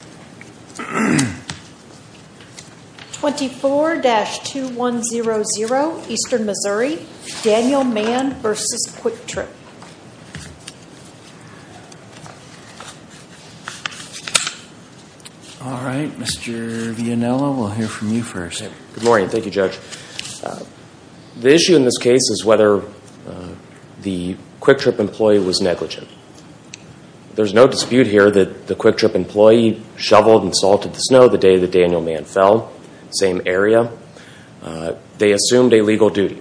The issue in this case is whether the Quiktrip employee was negligent. There's no dispute here that the Quiktrip employee shoveled and salted the snow the day that Daniel Mann fell, same area. They assumed a legal duty.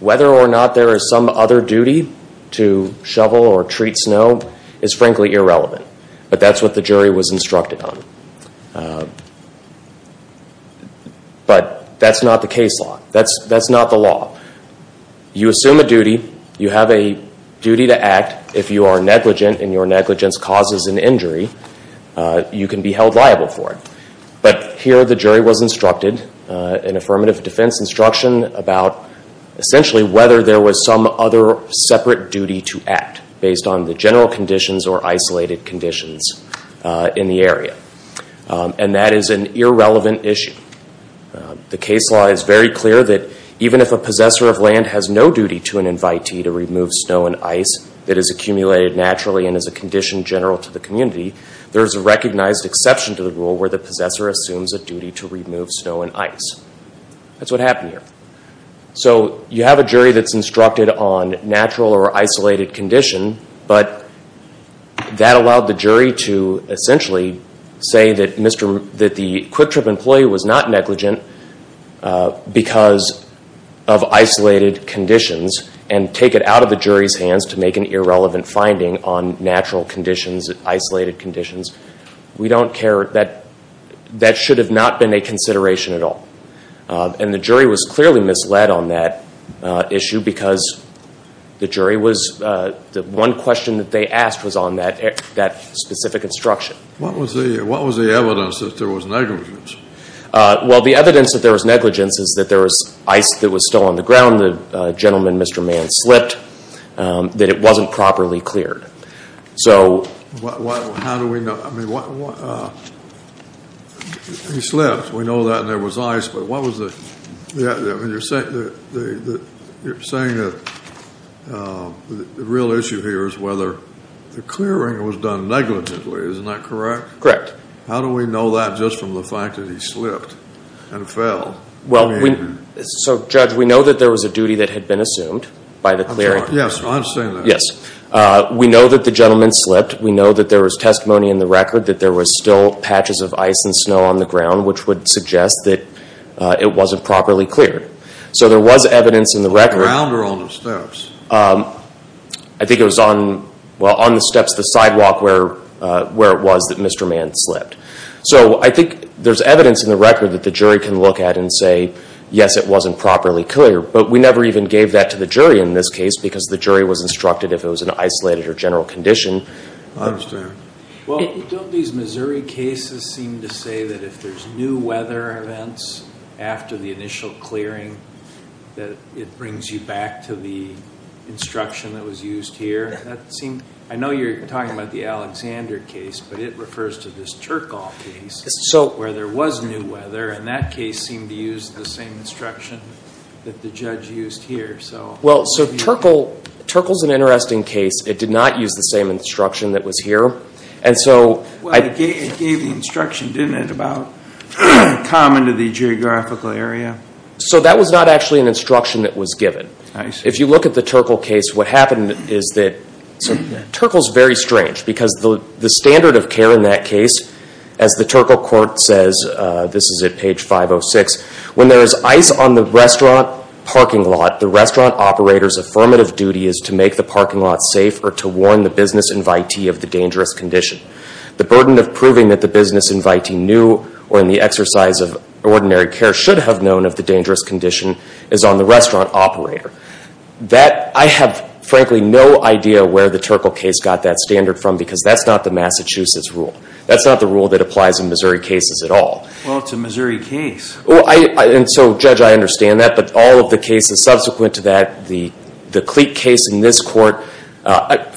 Whether or not there is some other duty to shovel or treat snow is frankly irrelevant. But that's what the jury was instructed on. But that's not the case law. That's not the law. You assume a duty. You have a duty to act. If you are negligent and your negligence causes an injury, you can be held liable for it. But here the jury was instructed, an affirmative defense instruction, about essentially whether there was some other separate duty to act based on the general conditions or isolated conditions in the area. And that is an irrelevant issue. The case law is very clear that even if a possessor of land has no duty to an invitee to remove snow and ice that is accumulated naturally and is a condition general to the community, there is a recognized exception to the rule where the possessor assumes a duty to remove snow and ice. That's what happened here. So you have a jury that's instructed on natural or isolated condition, but that allowed the jury to essentially say that the Quick Trip employee was not negligent because of isolated conditions and take it out of the jury's hands to make an irrelevant finding on natural conditions, isolated conditions. We don't care. That should have not been a consideration at all. And the jury was clearly misled on that issue because the jury was, the one question that they asked was on that specific instruction. What was the evidence that there was negligence? Well, the evidence that there was negligence is that there was ice that was still on the ground, the gentleman, Mr. Mann, slipped, that it wasn't properly cleared. How do we know, I mean, he slipped, we know that, and there was ice. But what was the, you're saying that the real issue here is whether the clearing was done negligently. Isn't that correct? Correct. How do we know that just from the fact that he slipped and fell? Well, so Judge, we know that there was a duty that had been assumed by the clearing. Yes, I understand that. Yes. We know that the gentleman slipped. We know that there was testimony in the record that there was still patches of ice and snow on the ground, which would suggest that it wasn't properly cleared. So there was evidence in the record. On the ground or on the steps? I think it was on, well, on the steps of the sidewalk where it was that Mr. Mann slipped. So I think there's evidence in the record that the jury can look at and say, yes, it wasn't properly cleared. But we never even gave that to the jury in this case because the jury was instructed if it was an isolated or general condition. I understand. Well, don't these Missouri cases seem to say that if there's new weather events after the initial clearing, that it brings you back to the instruction that was used here? I know you're talking about the Alexander case, but it refers to this Turkle case where there was new weather, and that case seemed to use the same instruction that the judge used here. Well, so Turkle's an interesting case. It did not use the same instruction that was here. It gave the instruction, didn't it, about common to the geographical area? So that was not actually an instruction that was given. If you look at the Turkle case, what happened is that Turkle's very strange because the standard of care in that case, as the Turkle court says, this is at page 506, when there is ice on the restaurant parking lot, the restaurant operator's affirmative duty is to make the parking lot safe or to warn the business invitee of the dangerous condition. The burden of proving that the business invitee knew or in the exercise of ordinary care should have known of the dangerous condition is on the restaurant operator. I have, frankly, no idea where the Turkle case got that standard from because that's not the Massachusetts rule. That's not the rule that applies in Missouri cases at all. Well, it's a Missouri case. And so, Judge, I understand that, but all of the cases subsequent to that, the Cleet case in this court,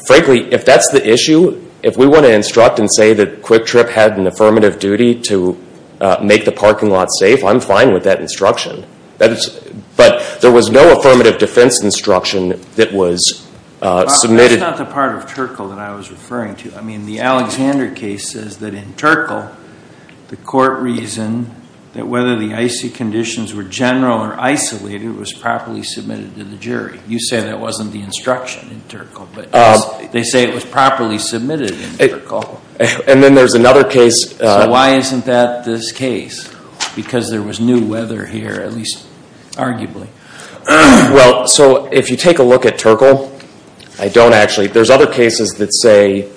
frankly, if that's the issue, if we want to instruct and say that Quick Trip had an affirmative duty to make the parking lot safe, I'm fine with that instruction. But there was no affirmative defense instruction that was submitted. That's not the part of Turkle that I was referring to. I mean, the Alexander case says that in Turkle, the court reasoned that whether the icy conditions were general or isolated was properly submitted to the jury. You say that wasn't the instruction in Turkle, but they say it was properly submitted in Turkle. And then there's another case. So why isn't that this case? Because there was new weather here, at least arguably. Well, so if you take a look at Turkle, I don't actually. There's other cases that say,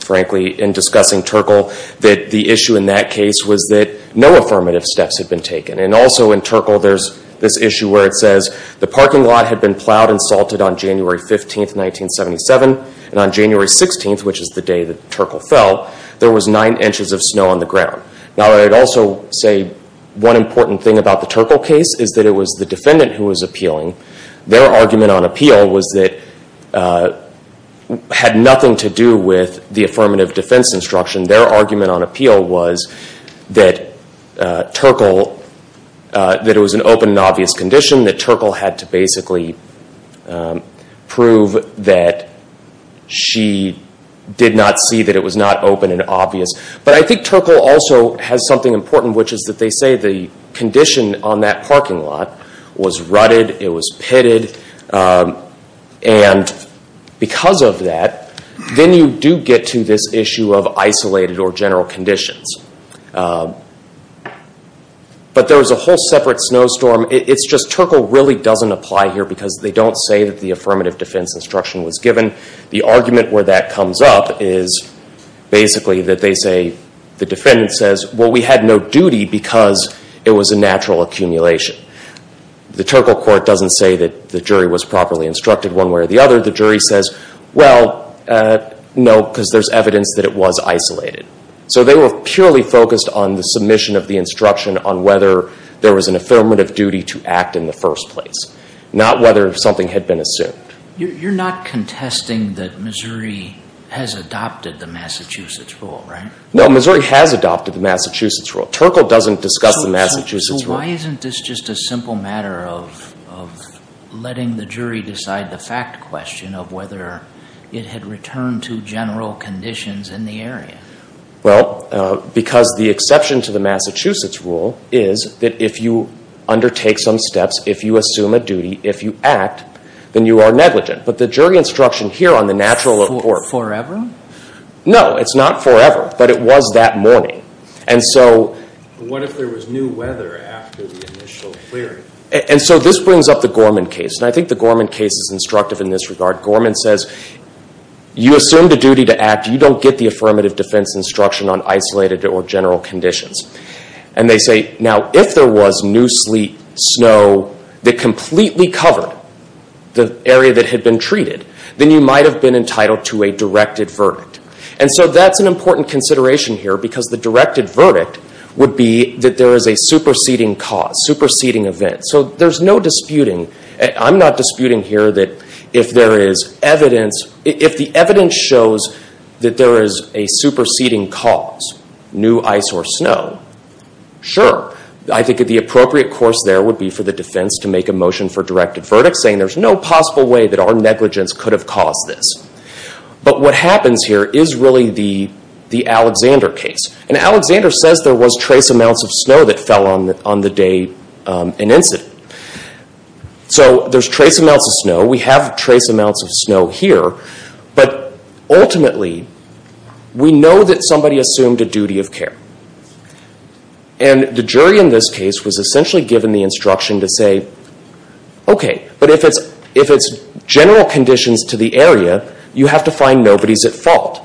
frankly, in discussing Turkle, that the issue in that case was that no affirmative steps had been taken. And also in Turkle, there's this issue where it says the parking lot had been plowed and salted on January 15, 1977. And on January 16, which is the day that Turkle fell, there was nine inches of snow on the ground. Now, I'd also say one important thing about the Turkle case is that it was the defendant who was appealing. Their argument on appeal was that it had nothing to do with the affirmative defense instruction. Their argument on appeal was that it was an open and obvious condition, that Turkle had to basically prove that she did not see that it was not open and obvious. But I think Turkle also has something important, which is that they say the condition on that parking lot was rutted. It was pitted. And because of that, then you do get to this issue of isolated or general conditions. But there was a whole separate snowstorm. It's just Turkle really doesn't apply here because they don't say that the affirmative defense instruction was given. The argument where that comes up is basically that they say, the defendant says, well, we had no duty because it was a natural accumulation. The Turkle court doesn't say that the jury was properly instructed one way or the other. The jury says, well, no, because there's evidence that it was isolated. So they were purely focused on the submission of the instruction on whether there was an affirmative duty to act in the first place, not whether something had been assumed. You're not contesting that Missouri has adopted the Massachusetts rule, right? No, Missouri has adopted the Massachusetts rule. Turkle doesn't discuss the Massachusetts rule. So why isn't this just a simple matter of letting the jury decide the fact question of whether it had returned to general conditions in the area? Well, because the exception to the Massachusetts rule is that if you undertake some steps, if you assume a duty, if you act, then you are negligent. But the jury instruction here on the natural report. Forever? No, it's not forever, but it was that morning. What if there was new weather after the initial clearing? And so this brings up the Gorman case, and I think the Gorman case is instructive in this regard. Gorman says, you assume the duty to act. You don't get the affirmative defense instruction on isolated or general conditions. And they say, now, if there was new sleet, snow that completely covered the area that had been treated, then you might have been entitled to a directed verdict. And so that's an important consideration here because the directed verdict would be that there is a superseding cause, superseding event. So there's no disputing. I'm not disputing here that if there is evidence, if the evidence shows that there is a superseding cause, new ice or snow, sure. I think the appropriate course there would be for the defense to make a motion for directed verdict, saying there's no possible way that our negligence could have caused this. But what happens here is really the Alexander case. And Alexander says there was trace amounts of snow that fell on the day of an incident. So there's trace amounts of snow. We have trace amounts of snow here. But ultimately, we know that somebody assumed a duty of care. And the jury in this case was essentially given the instruction to say, Okay, but if it's general conditions to the area, you have to find nobody's at fault.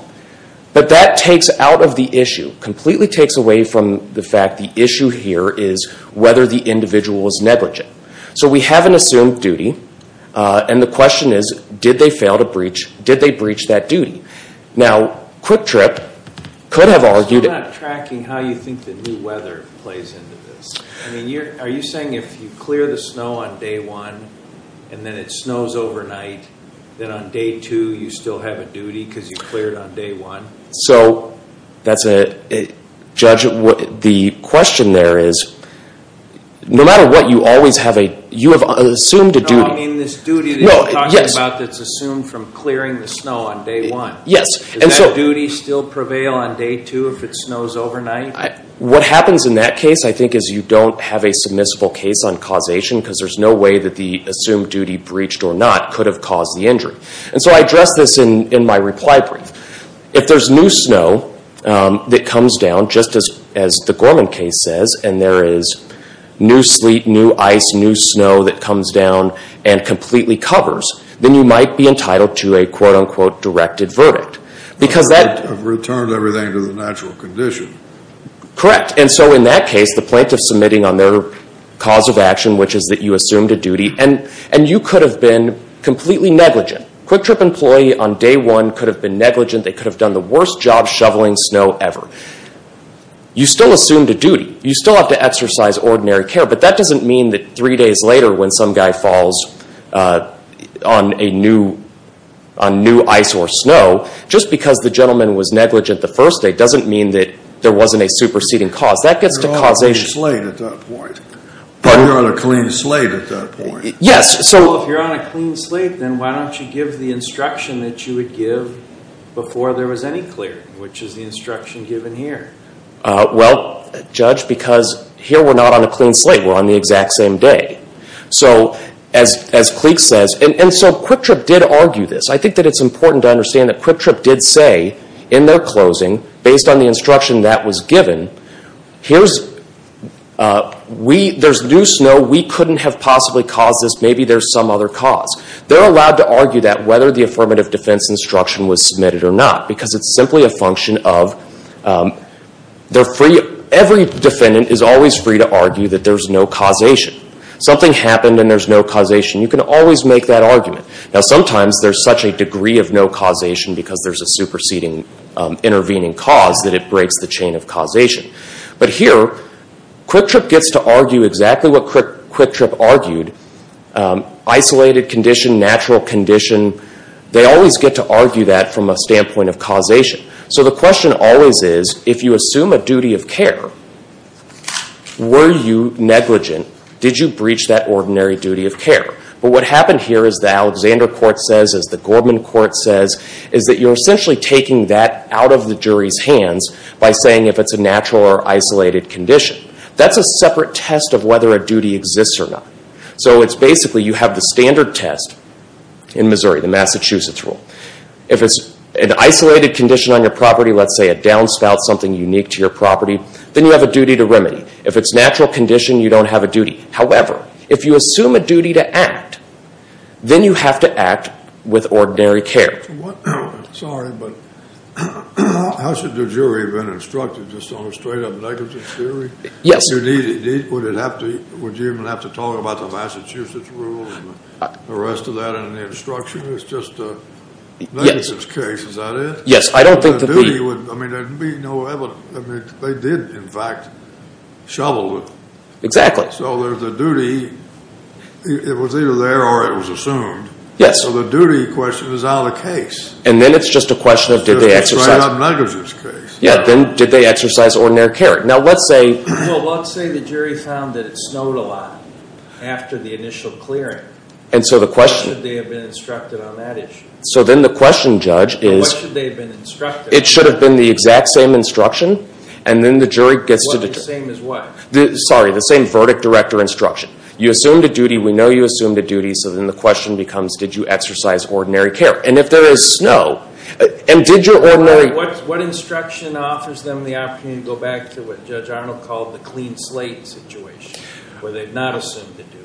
But that takes out of the issue, completely takes away from the fact the issue here is whether the individual was negligent. So we haven't assumed duty. And the question is, did they fail to breach, did they breach that duty? Now, QuickTrip could have argued it. How do you think the new weather plays into this? Are you saying if you clear the snow on day one and then it snows overnight, then on day two you still have a duty because you cleared on day one? So, Judge, the question there is, no matter what, you have assumed a duty. No, I mean this duty that you're talking about that's assumed from clearing the snow on day one. Does that duty still prevail on day two if it snows overnight? What happens in that case, I think, is you don't have a submissible case on causation because there's no way that the assumed duty, breached or not, could have caused the injury. And so I address this in my reply brief. If there's new snow that comes down, just as the Gorman case says, and there is new sleet, new ice, new snow that comes down and completely covers, then you might be entitled to a, quote, unquote, directed verdict. I've returned everything to the natural condition. Correct. And so in that case, the plaintiff's submitting on their cause of action, which is that you assumed a duty, and you could have been completely negligent. QuickTrip employee on day one could have been negligent. They could have done the worst job shoveling snow ever. You still assumed a duty. You still have to exercise ordinary care. But that doesn't mean that three days later when some guy falls on new ice or snow, just because the gentleman was negligent the first day doesn't mean that there wasn't a superseding cause. That gets to causation. You're on a clean slate at that point. Pardon? You're on a clean slate at that point. Yes. So if you're on a clean slate, then why don't you give the instruction that you would give before there was any clearing, which is the instruction given here? Well, Judge, because here we're not on a clean slate. We're on the exact same day. So as Cleek says, and so QuickTrip did argue this. I think that it's important to understand that QuickTrip did say in their closing, based on the instruction that was given, there's new snow, we couldn't have possibly caused this, maybe there's some other cause. They're allowed to argue that whether the affirmative defense instruction was submitted or not, because it's simply a function of every defendant is always free to argue that there's no causation. Something happened and there's no causation. You can always make that argument. Now sometimes there's such a degree of no causation because there's a superseding intervening cause that it breaks the chain of causation. But here, QuickTrip gets to argue exactly what QuickTrip argued. Isolated condition, natural condition, they always get to argue that from a standpoint of causation. So the question always is, if you assume a duty of care, were you negligent? Did you breach that ordinary duty of care? But what happened here, as the Alexander Court says, as the Gorman Court says, is that you're essentially taking that out of the jury's hands by saying if it's a natural or isolated condition. That's a separate test of whether a duty exists or not. So it's basically you have the standard test in Missouri, the Massachusetts rule. If it's an isolated condition on your property, let's say a downspout, something unique to your property, then you have a duty to remedy. If it's natural condition, you don't have a duty. However, if you assume a duty to act, then you have to act with ordinary care. Sorry, but how should the jury have been instructed, just on a straight-up negligence theory? Yes. Would you even have to talk about the Massachusetts rule and the rest of that in the instruction? It's just a negligence case, is that it? Yes, I don't think that the— I mean, there'd be no evidence. I mean, they did, in fact, shovel it. Exactly. So there's a duty. It was either there or it was assumed. Yes. So the duty question is out of the case. And then it's just a question of did they exercise— It's a straight-up negligence case. Yeah, then did they exercise ordinary care? Now, let's say— Well, let's say the jury found that it snowed a lot after the initial clearing. And so the question— What should they have been instructed on that issue? So then the question, Judge, is— What should they have been instructed on? It should have been the exact same instruction, and then the jury gets to— Well, the same as what? Sorry, the same verdict, direct, or instruction. You assumed a duty. We know you assumed a duty. So then the question becomes, did you exercise ordinary care? And if there is snow, and did your ordinary— What instruction offers them the opportunity to go back to what Judge Arnold called the clean slate situation, where they've not assumed a duty?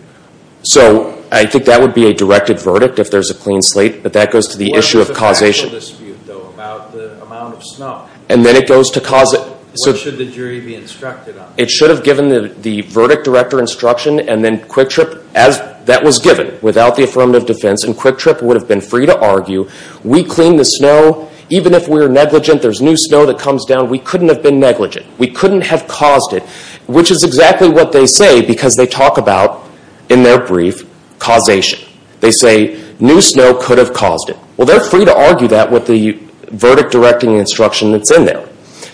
So I think that would be a directed verdict if there's a clean slate, but that goes to the issue of causation. What's the factual dispute, though, about the amount of snow? And then it goes to cause— What should the jury be instructed on? It should have given the verdict, direct, or instruction, and then Quick Trip, that was given without the affirmative defense, and Quick Trip would have been free to argue, we cleaned the snow. Even if we were negligent, there's new snow that comes down. We couldn't have been negligent. We couldn't have caused it, which is exactly what they say, because they talk about, in their brief, causation. They say, new snow could have caused it. Well, they're free to argue that with the verdict, direct, and instruction that's in there,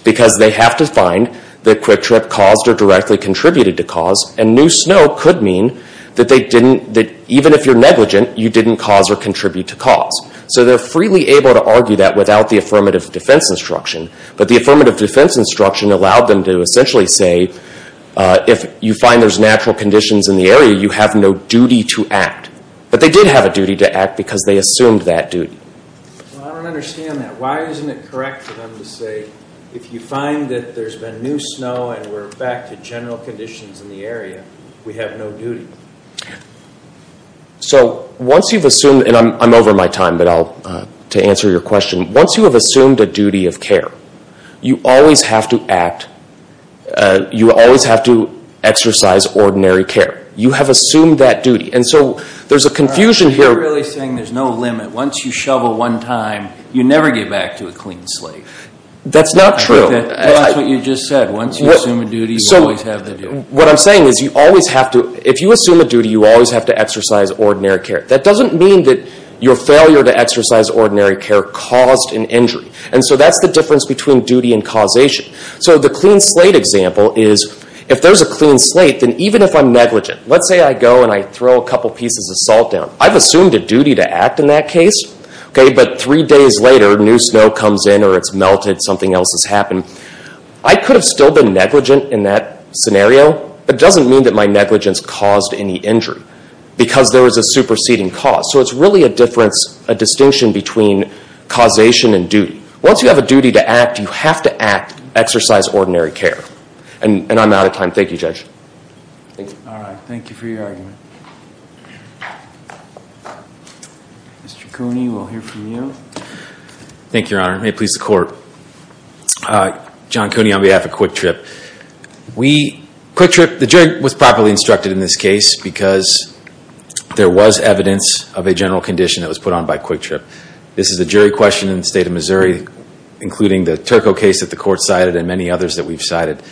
because they have to find that Quick Trip caused or directly contributed to cause, and new snow could mean that even if you're negligent, you didn't cause or contribute to cause. So they're freely able to argue that without the affirmative defense instruction, but the affirmative defense instruction allowed them to essentially say, if you find there's natural conditions in the area, you have no duty to act. But they did have a duty to act because they assumed that duty. Well, I don't understand that. Why isn't it correct for them to say, if you find that there's been new snow and we're back to general conditions in the area, we have no duty? So once you've assumed, and I'm over my time to answer your question, once you have assumed a duty of care, you always have to act. You always have to exercise ordinary care. You have assumed that duty. And so there's a confusion here. You're really saying there's no limit. Once you shovel one time, you never get back to a clean slate. That's not true. That's what you just said. Once you assume a duty, you always have the duty. What I'm saying is, if you assume a duty, you always have to exercise ordinary care. That doesn't mean that your failure to exercise ordinary care caused an injury. And so that's the difference between duty and causation. So the clean slate example is, if there's a clean slate, then even if I'm negligent, let's say I go and I throw a couple pieces of salt down. I've assumed a duty to act in that case, but three days later, new snow comes in or it's melted, something else has happened. I could have still been negligent in that scenario, but it doesn't mean that my negligence caused any injury, because there was a superseding cause. So it's really a distinction between causation and duty. Once you have a duty to act, you have to exercise ordinary care. And I'm out of time. Thank you, Judge. All right. Thank you for your argument. Mr. Cooney, we'll hear from you. Thank you, Your Honor. May it please the Court. John Cooney on behalf of Quick Trip. Quick Trip, the jury was properly instructed in this case because there was evidence of a general condition that was put on by Quick Trip. This is a jury question in the state of Missouri, including the Turco case that the Court cited and many others that we've cited.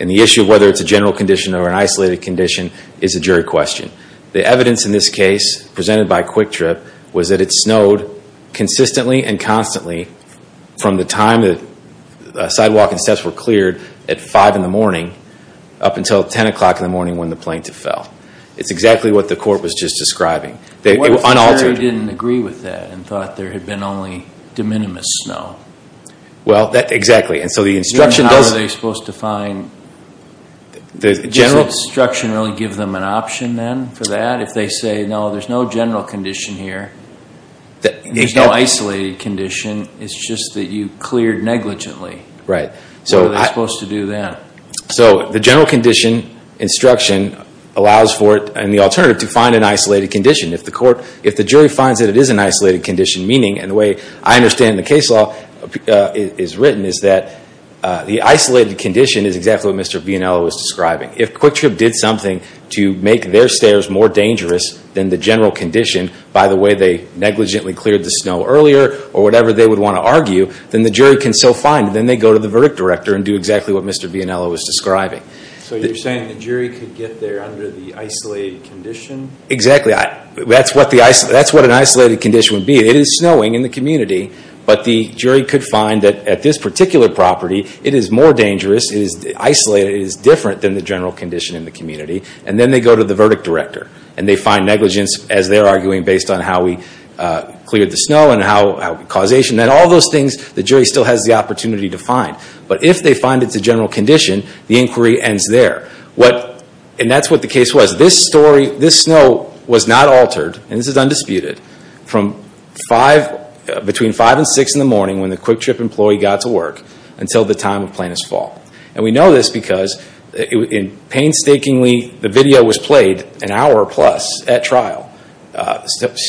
And the issue of whether it's a general condition or an isolated condition is a jury question. The evidence in this case, presented by Quick Trip, was that it snowed consistently and constantly from the time the sidewalk and steps were cleared at 5 in the morning up until 10 o'clock in the morning when the plaintiff fell. It's exactly what the Court was just describing. The jury didn't agree with that and thought there had been only de minimis snow. Well, exactly. And so the instruction does... Your Honor, how are they supposed to find... Does the instruction really give them an option then for that? If they say, no, there's no general condition here, there's no isolated condition, it's just that you cleared negligently. Right. What are they supposed to do then? So the general condition instruction allows for it and the alternative to find an isolated condition. If the jury finds that it is an isolated condition, meaning, and the way I understand the case law is written, is that the isolated condition is exactly what Mr. Vianello was describing. If Quick Trip did something to make their stairs more dangerous than the general condition by the way they negligently cleared the snow earlier or whatever they would want to argue, then the jury can still find it. Then they go to the verdict director and do exactly what Mr. Vianello was describing. So you're saying the jury could get there under the isolated condition? Exactly. That's what an isolated condition would be. It is snowing in the community, but the jury could find that at this particular property it is more dangerous, it is isolated, it is different than the general condition in the community, and then they go to the verdict director and they find negligence as they're arguing based on how we cleared the snow and how causation, and all those things the jury still has the opportunity to find. But if they find it's a general condition, the inquiry ends there. And that's what the case was. This story, this snow was not altered, and this is undisputed, from between 5 and 6 in the morning when the Quick Trip employee got to work until the time of Plaintiff's fault. And we know this because painstakingly the video was played an hour plus at trial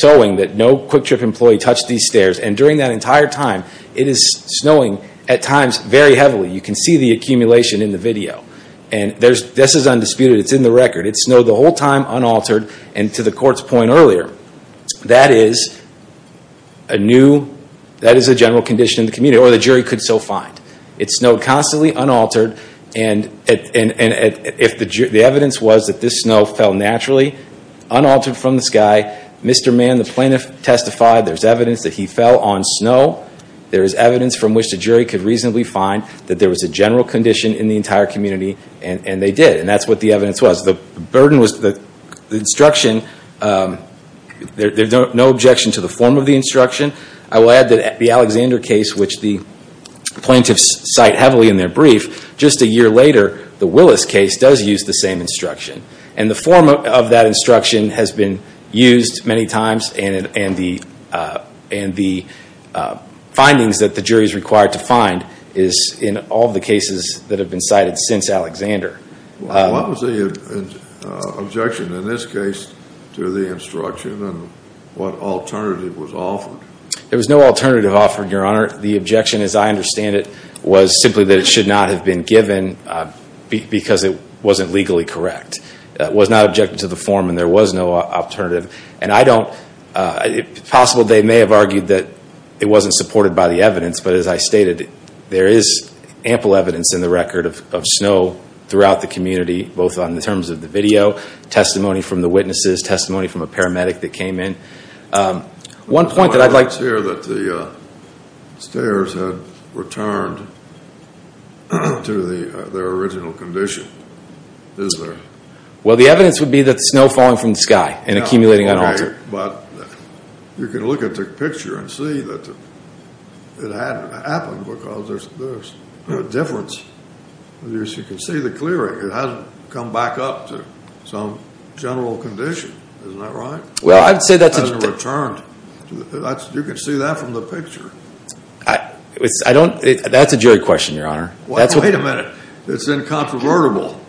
showing that no Quick Trip employee touched these stairs. And during that entire time, it is snowing at times very heavily. You can see the accumulation in the video. And this is undisputed. It's in the record. It snowed the whole time, unaltered, and to the court's point earlier, that is a general condition in the community, or the jury could so find. It snowed constantly, unaltered, and the evidence was that this snow fell naturally, unaltered from the sky. Mr. Mann, the plaintiff, testified there's evidence that he fell on snow. There is evidence from which the jury could reasonably find that there was a general condition in the entire community, and they did. And that's what the evidence was. The instruction, there's no objection to the form of the instruction. I will add that the Alexander case, which the plaintiffs cite heavily in their brief, just a year later, the Willis case does use the same instruction. And the form of that instruction has been used many times, and the findings that the jury is required to find is in all the cases that have been cited since Alexander. What was the objection in this case to the instruction, and what alternative was offered? There was no alternative offered, Your Honor. The objection, as I understand it, was simply that it should not have been given because it wasn't legally correct. It was not objected to the form, and there was no alternative. And I don't, it's possible they may have argued that it wasn't supported by the evidence, but as I stated, there is ample evidence in the record of snow throughout the community, both in terms of the video, testimony from the witnesses, testimony from a paramedic that came in. One point that I'd like to make. It's clear that the stairs had returned to their original condition, is there? Well, the evidence would be that snow falling from the sky and accumulating on all three. But you can look at the picture and see that it hadn't happened because there's a difference. You can see the clearing. It hasn't come back up to some general condition. Isn't that right? Well, I'd say that's a... It hasn't returned. You can see that from the picture. I don't, that's a jury question, Your Honor. Wait a minute. It's incontrovertible.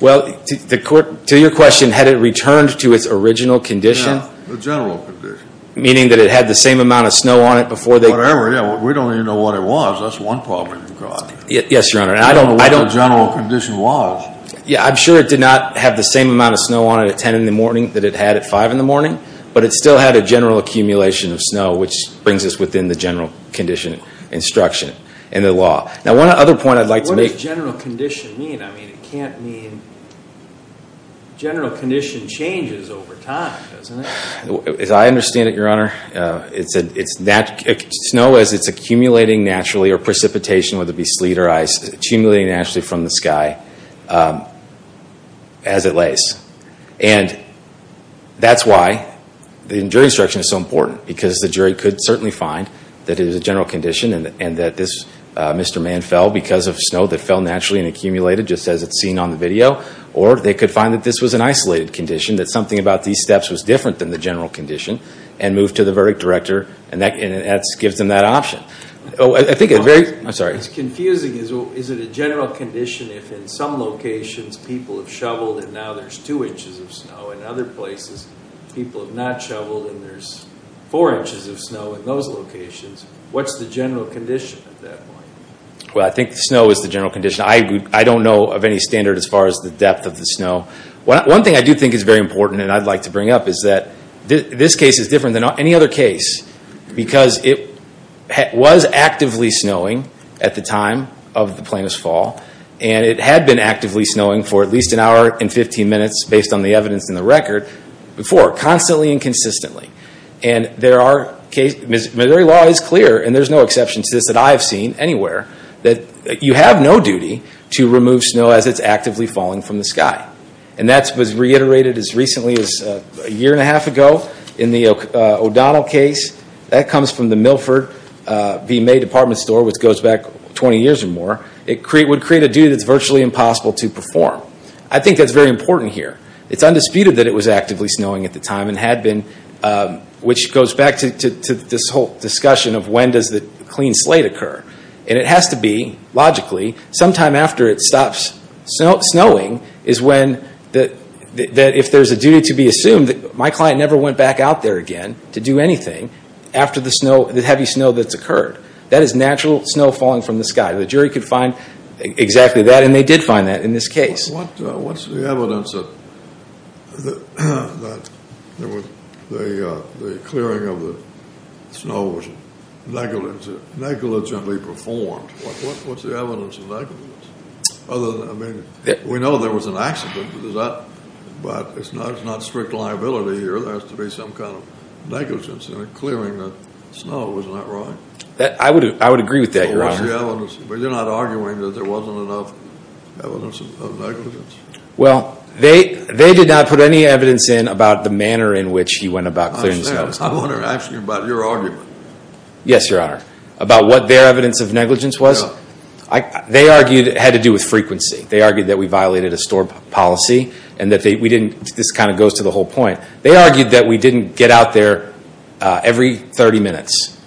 Well, to your question, had it returned to its original condition? Yeah, the general condition. Meaning that it had the same amount of snow on it before they... Whatever, yeah. We don't even know what it was. That's one problem. Yes, Your Honor. I don't know what the general condition was. Yeah, I'm sure it did not have the same amount of snow on it at 10 in the morning that it had at 5 in the morning, but it still had a general accumulation of snow, which brings us within the general condition instruction in the law. Now, one other point I'd like to make... What does general condition mean? I mean, it can't mean general condition changes over time, doesn't it? As I understand it, Your Honor, it's snow as it's accumulating naturally or precipitation, whether it be sleet or ice, accumulating naturally from the sky as it lays. And that's why the jury instruction is so important, because the jury could certainly find that it is a general condition and that Mr. Mann fell because of snow that fell naturally and accumulated, just as it's seen on the video, or they could find that this was an isolated condition, that something about these steps was different than the general condition, and move to the verdict director, and that gives them that option. I think a very... I'm sorry. It's confusing. Is it a general condition if in some locations people have shoveled and now there's 2 inches of snow? In other places, people have not shoveled and there's 4 inches of snow in those locations. What's the general condition at that point? Well, I think snow is the general condition. I don't know of any standard as far as the depth of the snow. One thing I do think is very important and I'd like to bring up is that this case is different than any other case because it was actively snowing at the time of the plaintiff's fall, and it had been actively snowing for at least an hour and 15 minutes, based on the evidence in the record, before, constantly and consistently. Missouri law is clear, and there's no exception to this that I have seen anywhere, that you have no duty to remove snow as it's actively falling from the sky. And that was reiterated as recently as a year and a half ago in the O'Donnell case. That comes from the Milford v. May Department Store, which goes back 20 years or more. It would create a duty that's virtually impossible to perform. I think that's very important here. It's undisputed that it was actively snowing at the time and had been, which goes back to this whole discussion of when does the clean slate occur. And it has to be, logically, sometime after it stops snowing is when, that if there's a duty to be assumed, my client never went back out there again to do anything after the heavy snow that's occurred. That is natural snow falling from the sky. The jury could find exactly that, and they did find that in this case. What's the evidence that the clearing of the snow was negligently performed? What's the evidence of negligence? I mean, we know there was an accident, but it's not strict liability here. There has to be some kind of negligence in clearing the snow. Isn't that right? I would agree with that, Your Honor. What's the evidence? They're not arguing that there wasn't enough evidence of negligence? Well, they did not put any evidence in about the manner in which he went about clearing the snow. I understand. I wanted to ask you about your argument. Yes, Your Honor. About what their evidence of negligence was? No. They argued it had to do with frequency. They argued that we violated a storm policy and that we didn't. This kind of goes to the whole point. They argued that we didn't get out there every 30 minutes,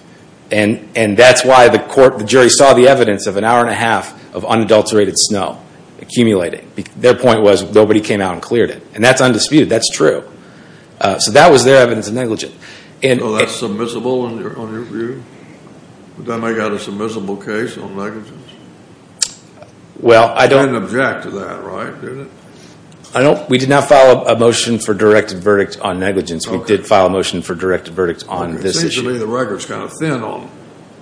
and that's why the jury saw the evidence of an hour and a half of unadulterated snow accumulating. Their point was nobody came out and cleared it. And that's undisputed. That's true. So that was their evidence of negligence. So that's submissible in your view? Does that make that a submissible case on negligence? Well, I don't. You didn't object to that, right? We did not file a motion for directed verdict on negligence. We did file a motion for directed verdict on this issue. Usually the record's kind of thin on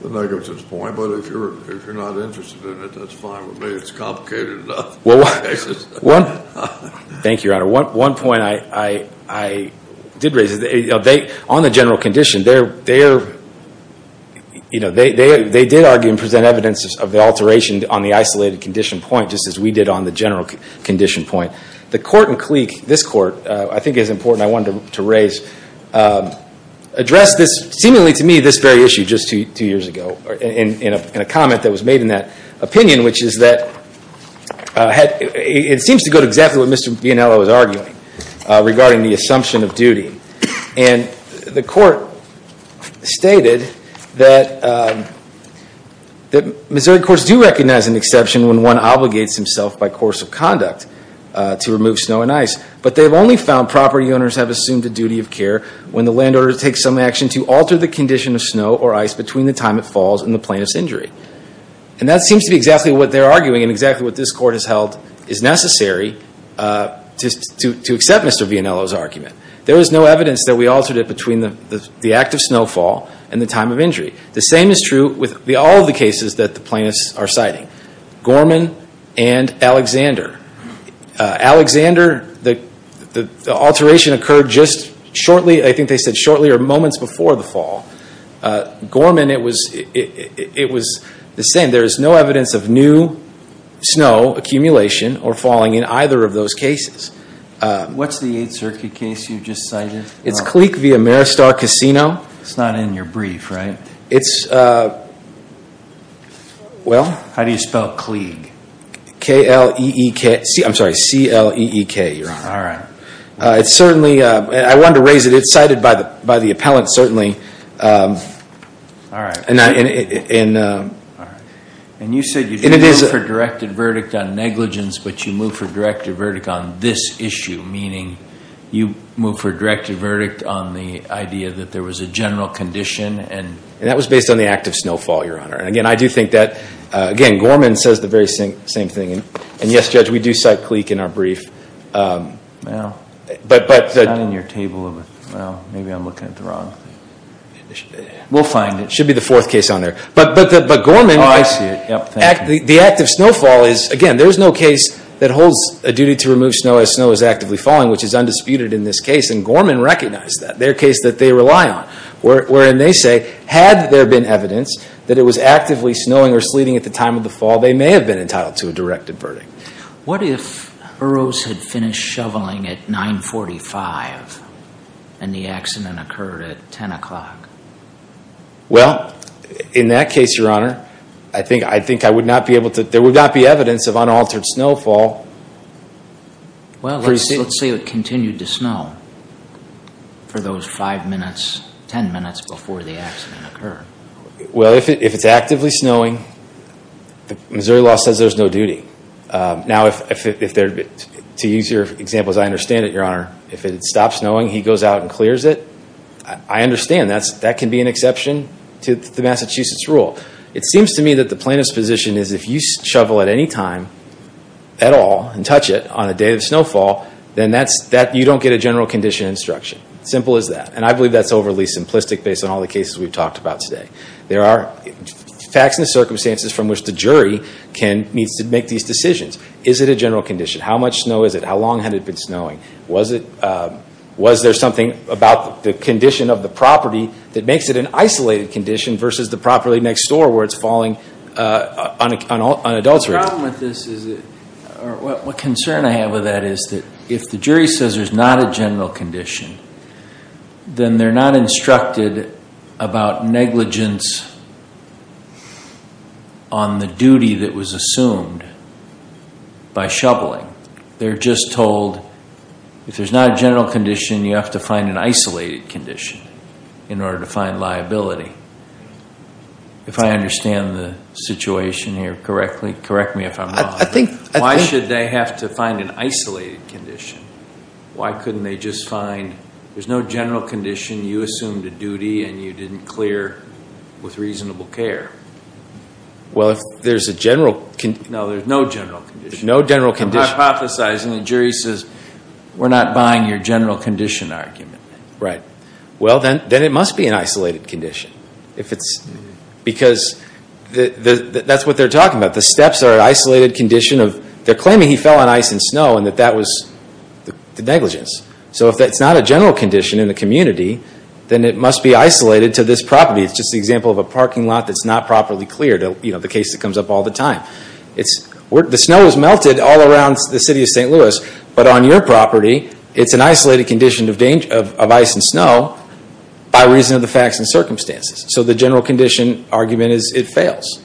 the negligence point, but if you're not interested in it, that's fine with me. It's complicated enough. Thank you, Your Honor. One point I did raise is on the general condition, they did argue and present evidence of the alteration on the isolated condition point, just as we did on the general condition point. The court in Cleek, this court, I think is important I wanted to raise, addressed this, seemingly to me, this very issue just two years ago, in a comment that was made in that opinion, which is that it seems to go to exactly what Mr. Biennialo was arguing regarding the assumption of duty. And the court stated that Missouri courts do recognize an exception when one obligates himself by course of conduct to remove snow and ice, but they've only found property owners have assumed a duty of care when the landowner takes some action to alter the condition of snow or ice between the time it falls and the plaintiff's injury. And that seems to be exactly what they're arguing and exactly what this court has held is necessary to accept Mr. Biennialo's argument. There is no evidence that we altered it between the act of snowfall and the time of injury. The same is true with all of the cases that the plaintiffs are citing. Gorman and Alexander. Alexander, the alteration occurred just shortly, I think they said shortly, or moments before the fall. Gorman, it was the same. There is no evidence of new snow accumulation or falling in either of those cases. What's the Eighth Circuit case you just cited? It's Kleek v. Ameristar Casino. It's not in your brief, right? It's, well. How do you spell Kleek? K-L-E-E-K, I'm sorry, C-L-E-E-K, Your Honor. All right. It's certainly, I wanted to raise it. It's cited by the appellant certainly. All right. And you said you didn't move for directed verdict on negligence, but you moved for directed verdict on this issue, meaning you moved for directed verdict on the idea that there was a general condition. And that was based on the act of snowfall, Your Honor. And, again, I do think that, again, Gorman says the very same thing. And, yes, Judge, we do cite Kleek in our brief. It's not in your table. Well, maybe I'm looking at the wrong thing. We'll find it. It should be the fourth case on there. But Gorman, the act of snowfall is, again, there is no case that holds a duty to remove snow as snow is actively falling, which is undisputed in this case. And Gorman recognized that. It's their case that they rely on, wherein they say had there been evidence that it was actively snowing or sleeting at the time of the fall, they may have been entitled to a directed verdict. What if Eros had finished shoveling at 945 and the accident occurred at 10 o'clock? Well, in that case, Your Honor, I think I would not be able to – there would not be evidence of unaltered snowfall. Well, let's say it continued to snow for those five minutes, ten minutes before the accident occurred. Well, if it's actively snowing, Missouri law says there's no duty. Now, to use your example, as I understand it, Your Honor, if it stops snowing, he goes out and clears it. I understand that can be an exception to the Massachusetts rule. It seems to me that the plaintiff's position is if you shovel at any time at all and touch it on a day of snowfall, then you don't get a general condition instruction. Simple as that. And I believe that's overly simplistic based on all the cases we've talked about today. There are facts and circumstances from which the jury needs to make these decisions. Is it a general condition? How much snow is it? How long had it been snowing? Was there something about the condition of the property that makes it an isolated condition versus the property next door where it's falling on an adult's rate? The problem with this is, or what concern I have with that, is that if the jury says there's not a general condition, then they're not instructed about negligence on the duty that was assumed by shoveling. They're just told if there's not a general condition, you have to find an isolated condition in order to find liability. If I understand the situation here correctly, correct me if I'm wrong. Why should they have to find an isolated condition? Why couldn't they just find there's no general condition, you assumed a duty and you didn't clear with reasonable care? Well, if there's a general condition. No, there's no general condition. There's no general condition. I'm hypothesizing the jury says we're not buying your general condition argument. Right. Well, then it must be an isolated condition. Because that's what they're talking about. The steps are an isolated condition. They're claiming he fell on ice and snow and that that was the negligence. So if that's not a general condition in the community, then it must be isolated to this property. It's just an example of a parking lot that's not properly cleared, the case that comes up all the time. The snow has melted all around the city of St. Louis, but on your property it's an isolated condition of ice and snow by reason of the facts and circumstances. So the general condition argument is it fails.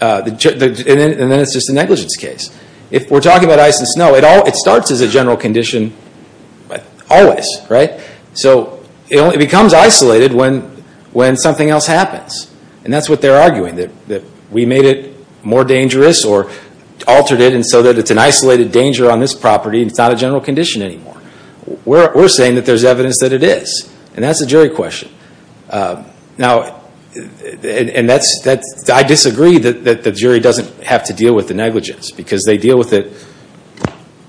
And then it's just a negligence case. If we're talking about ice and snow, it starts as a general condition always. So it only becomes isolated when something else happens. And that's what they're arguing, that we made it more dangerous or altered it and so that it's an isolated danger on this property and it's not a general condition anymore. We're saying that there's evidence that it is. And that's a jury question. Now, I disagree that the jury doesn't have to deal with the negligence because they deal with it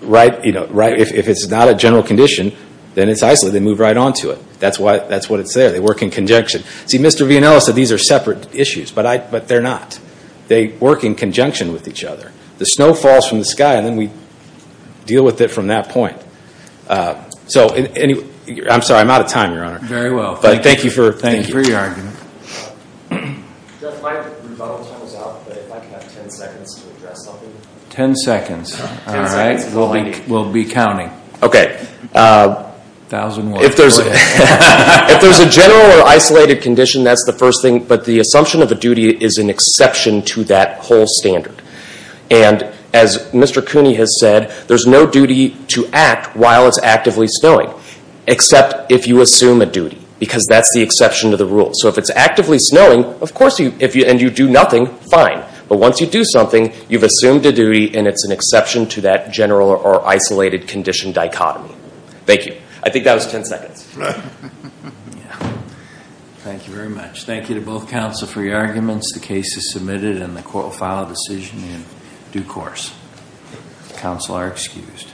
right. If it's not a general condition, then it's isolated. They move right on to it. That's what it's there. They work in conjunction. See, Mr. Villanueva said these are separate issues, but they're not. They work in conjunction with each other. The snow falls from the sky and then we deal with it from that point. So anyway, I'm sorry, I'm out of time, Your Honor. Very well. But thank you for your argument. Jeff, my rebuttal time is up, but if I could have ten seconds to address something. Ten seconds. All right. We'll be counting. Okay. A thousand words. If there's a general or isolated condition, that's the first thing. But the assumption of a duty is an exception to that whole standard. And as Mr. Cooney has said, there's no duty to act while it's actively snowing except if you assume a duty because that's the exception to the rule. So if it's actively snowing, of course, and you do nothing, fine. But once you do something, you've assumed a duty and it's an exception to that general or isolated condition dichotomy. Thank you. I think that was ten seconds. Thank you very much. Thank you to both counsel for your arguments. The case is submitted and the court will file a decision in due course. Counsel are excused.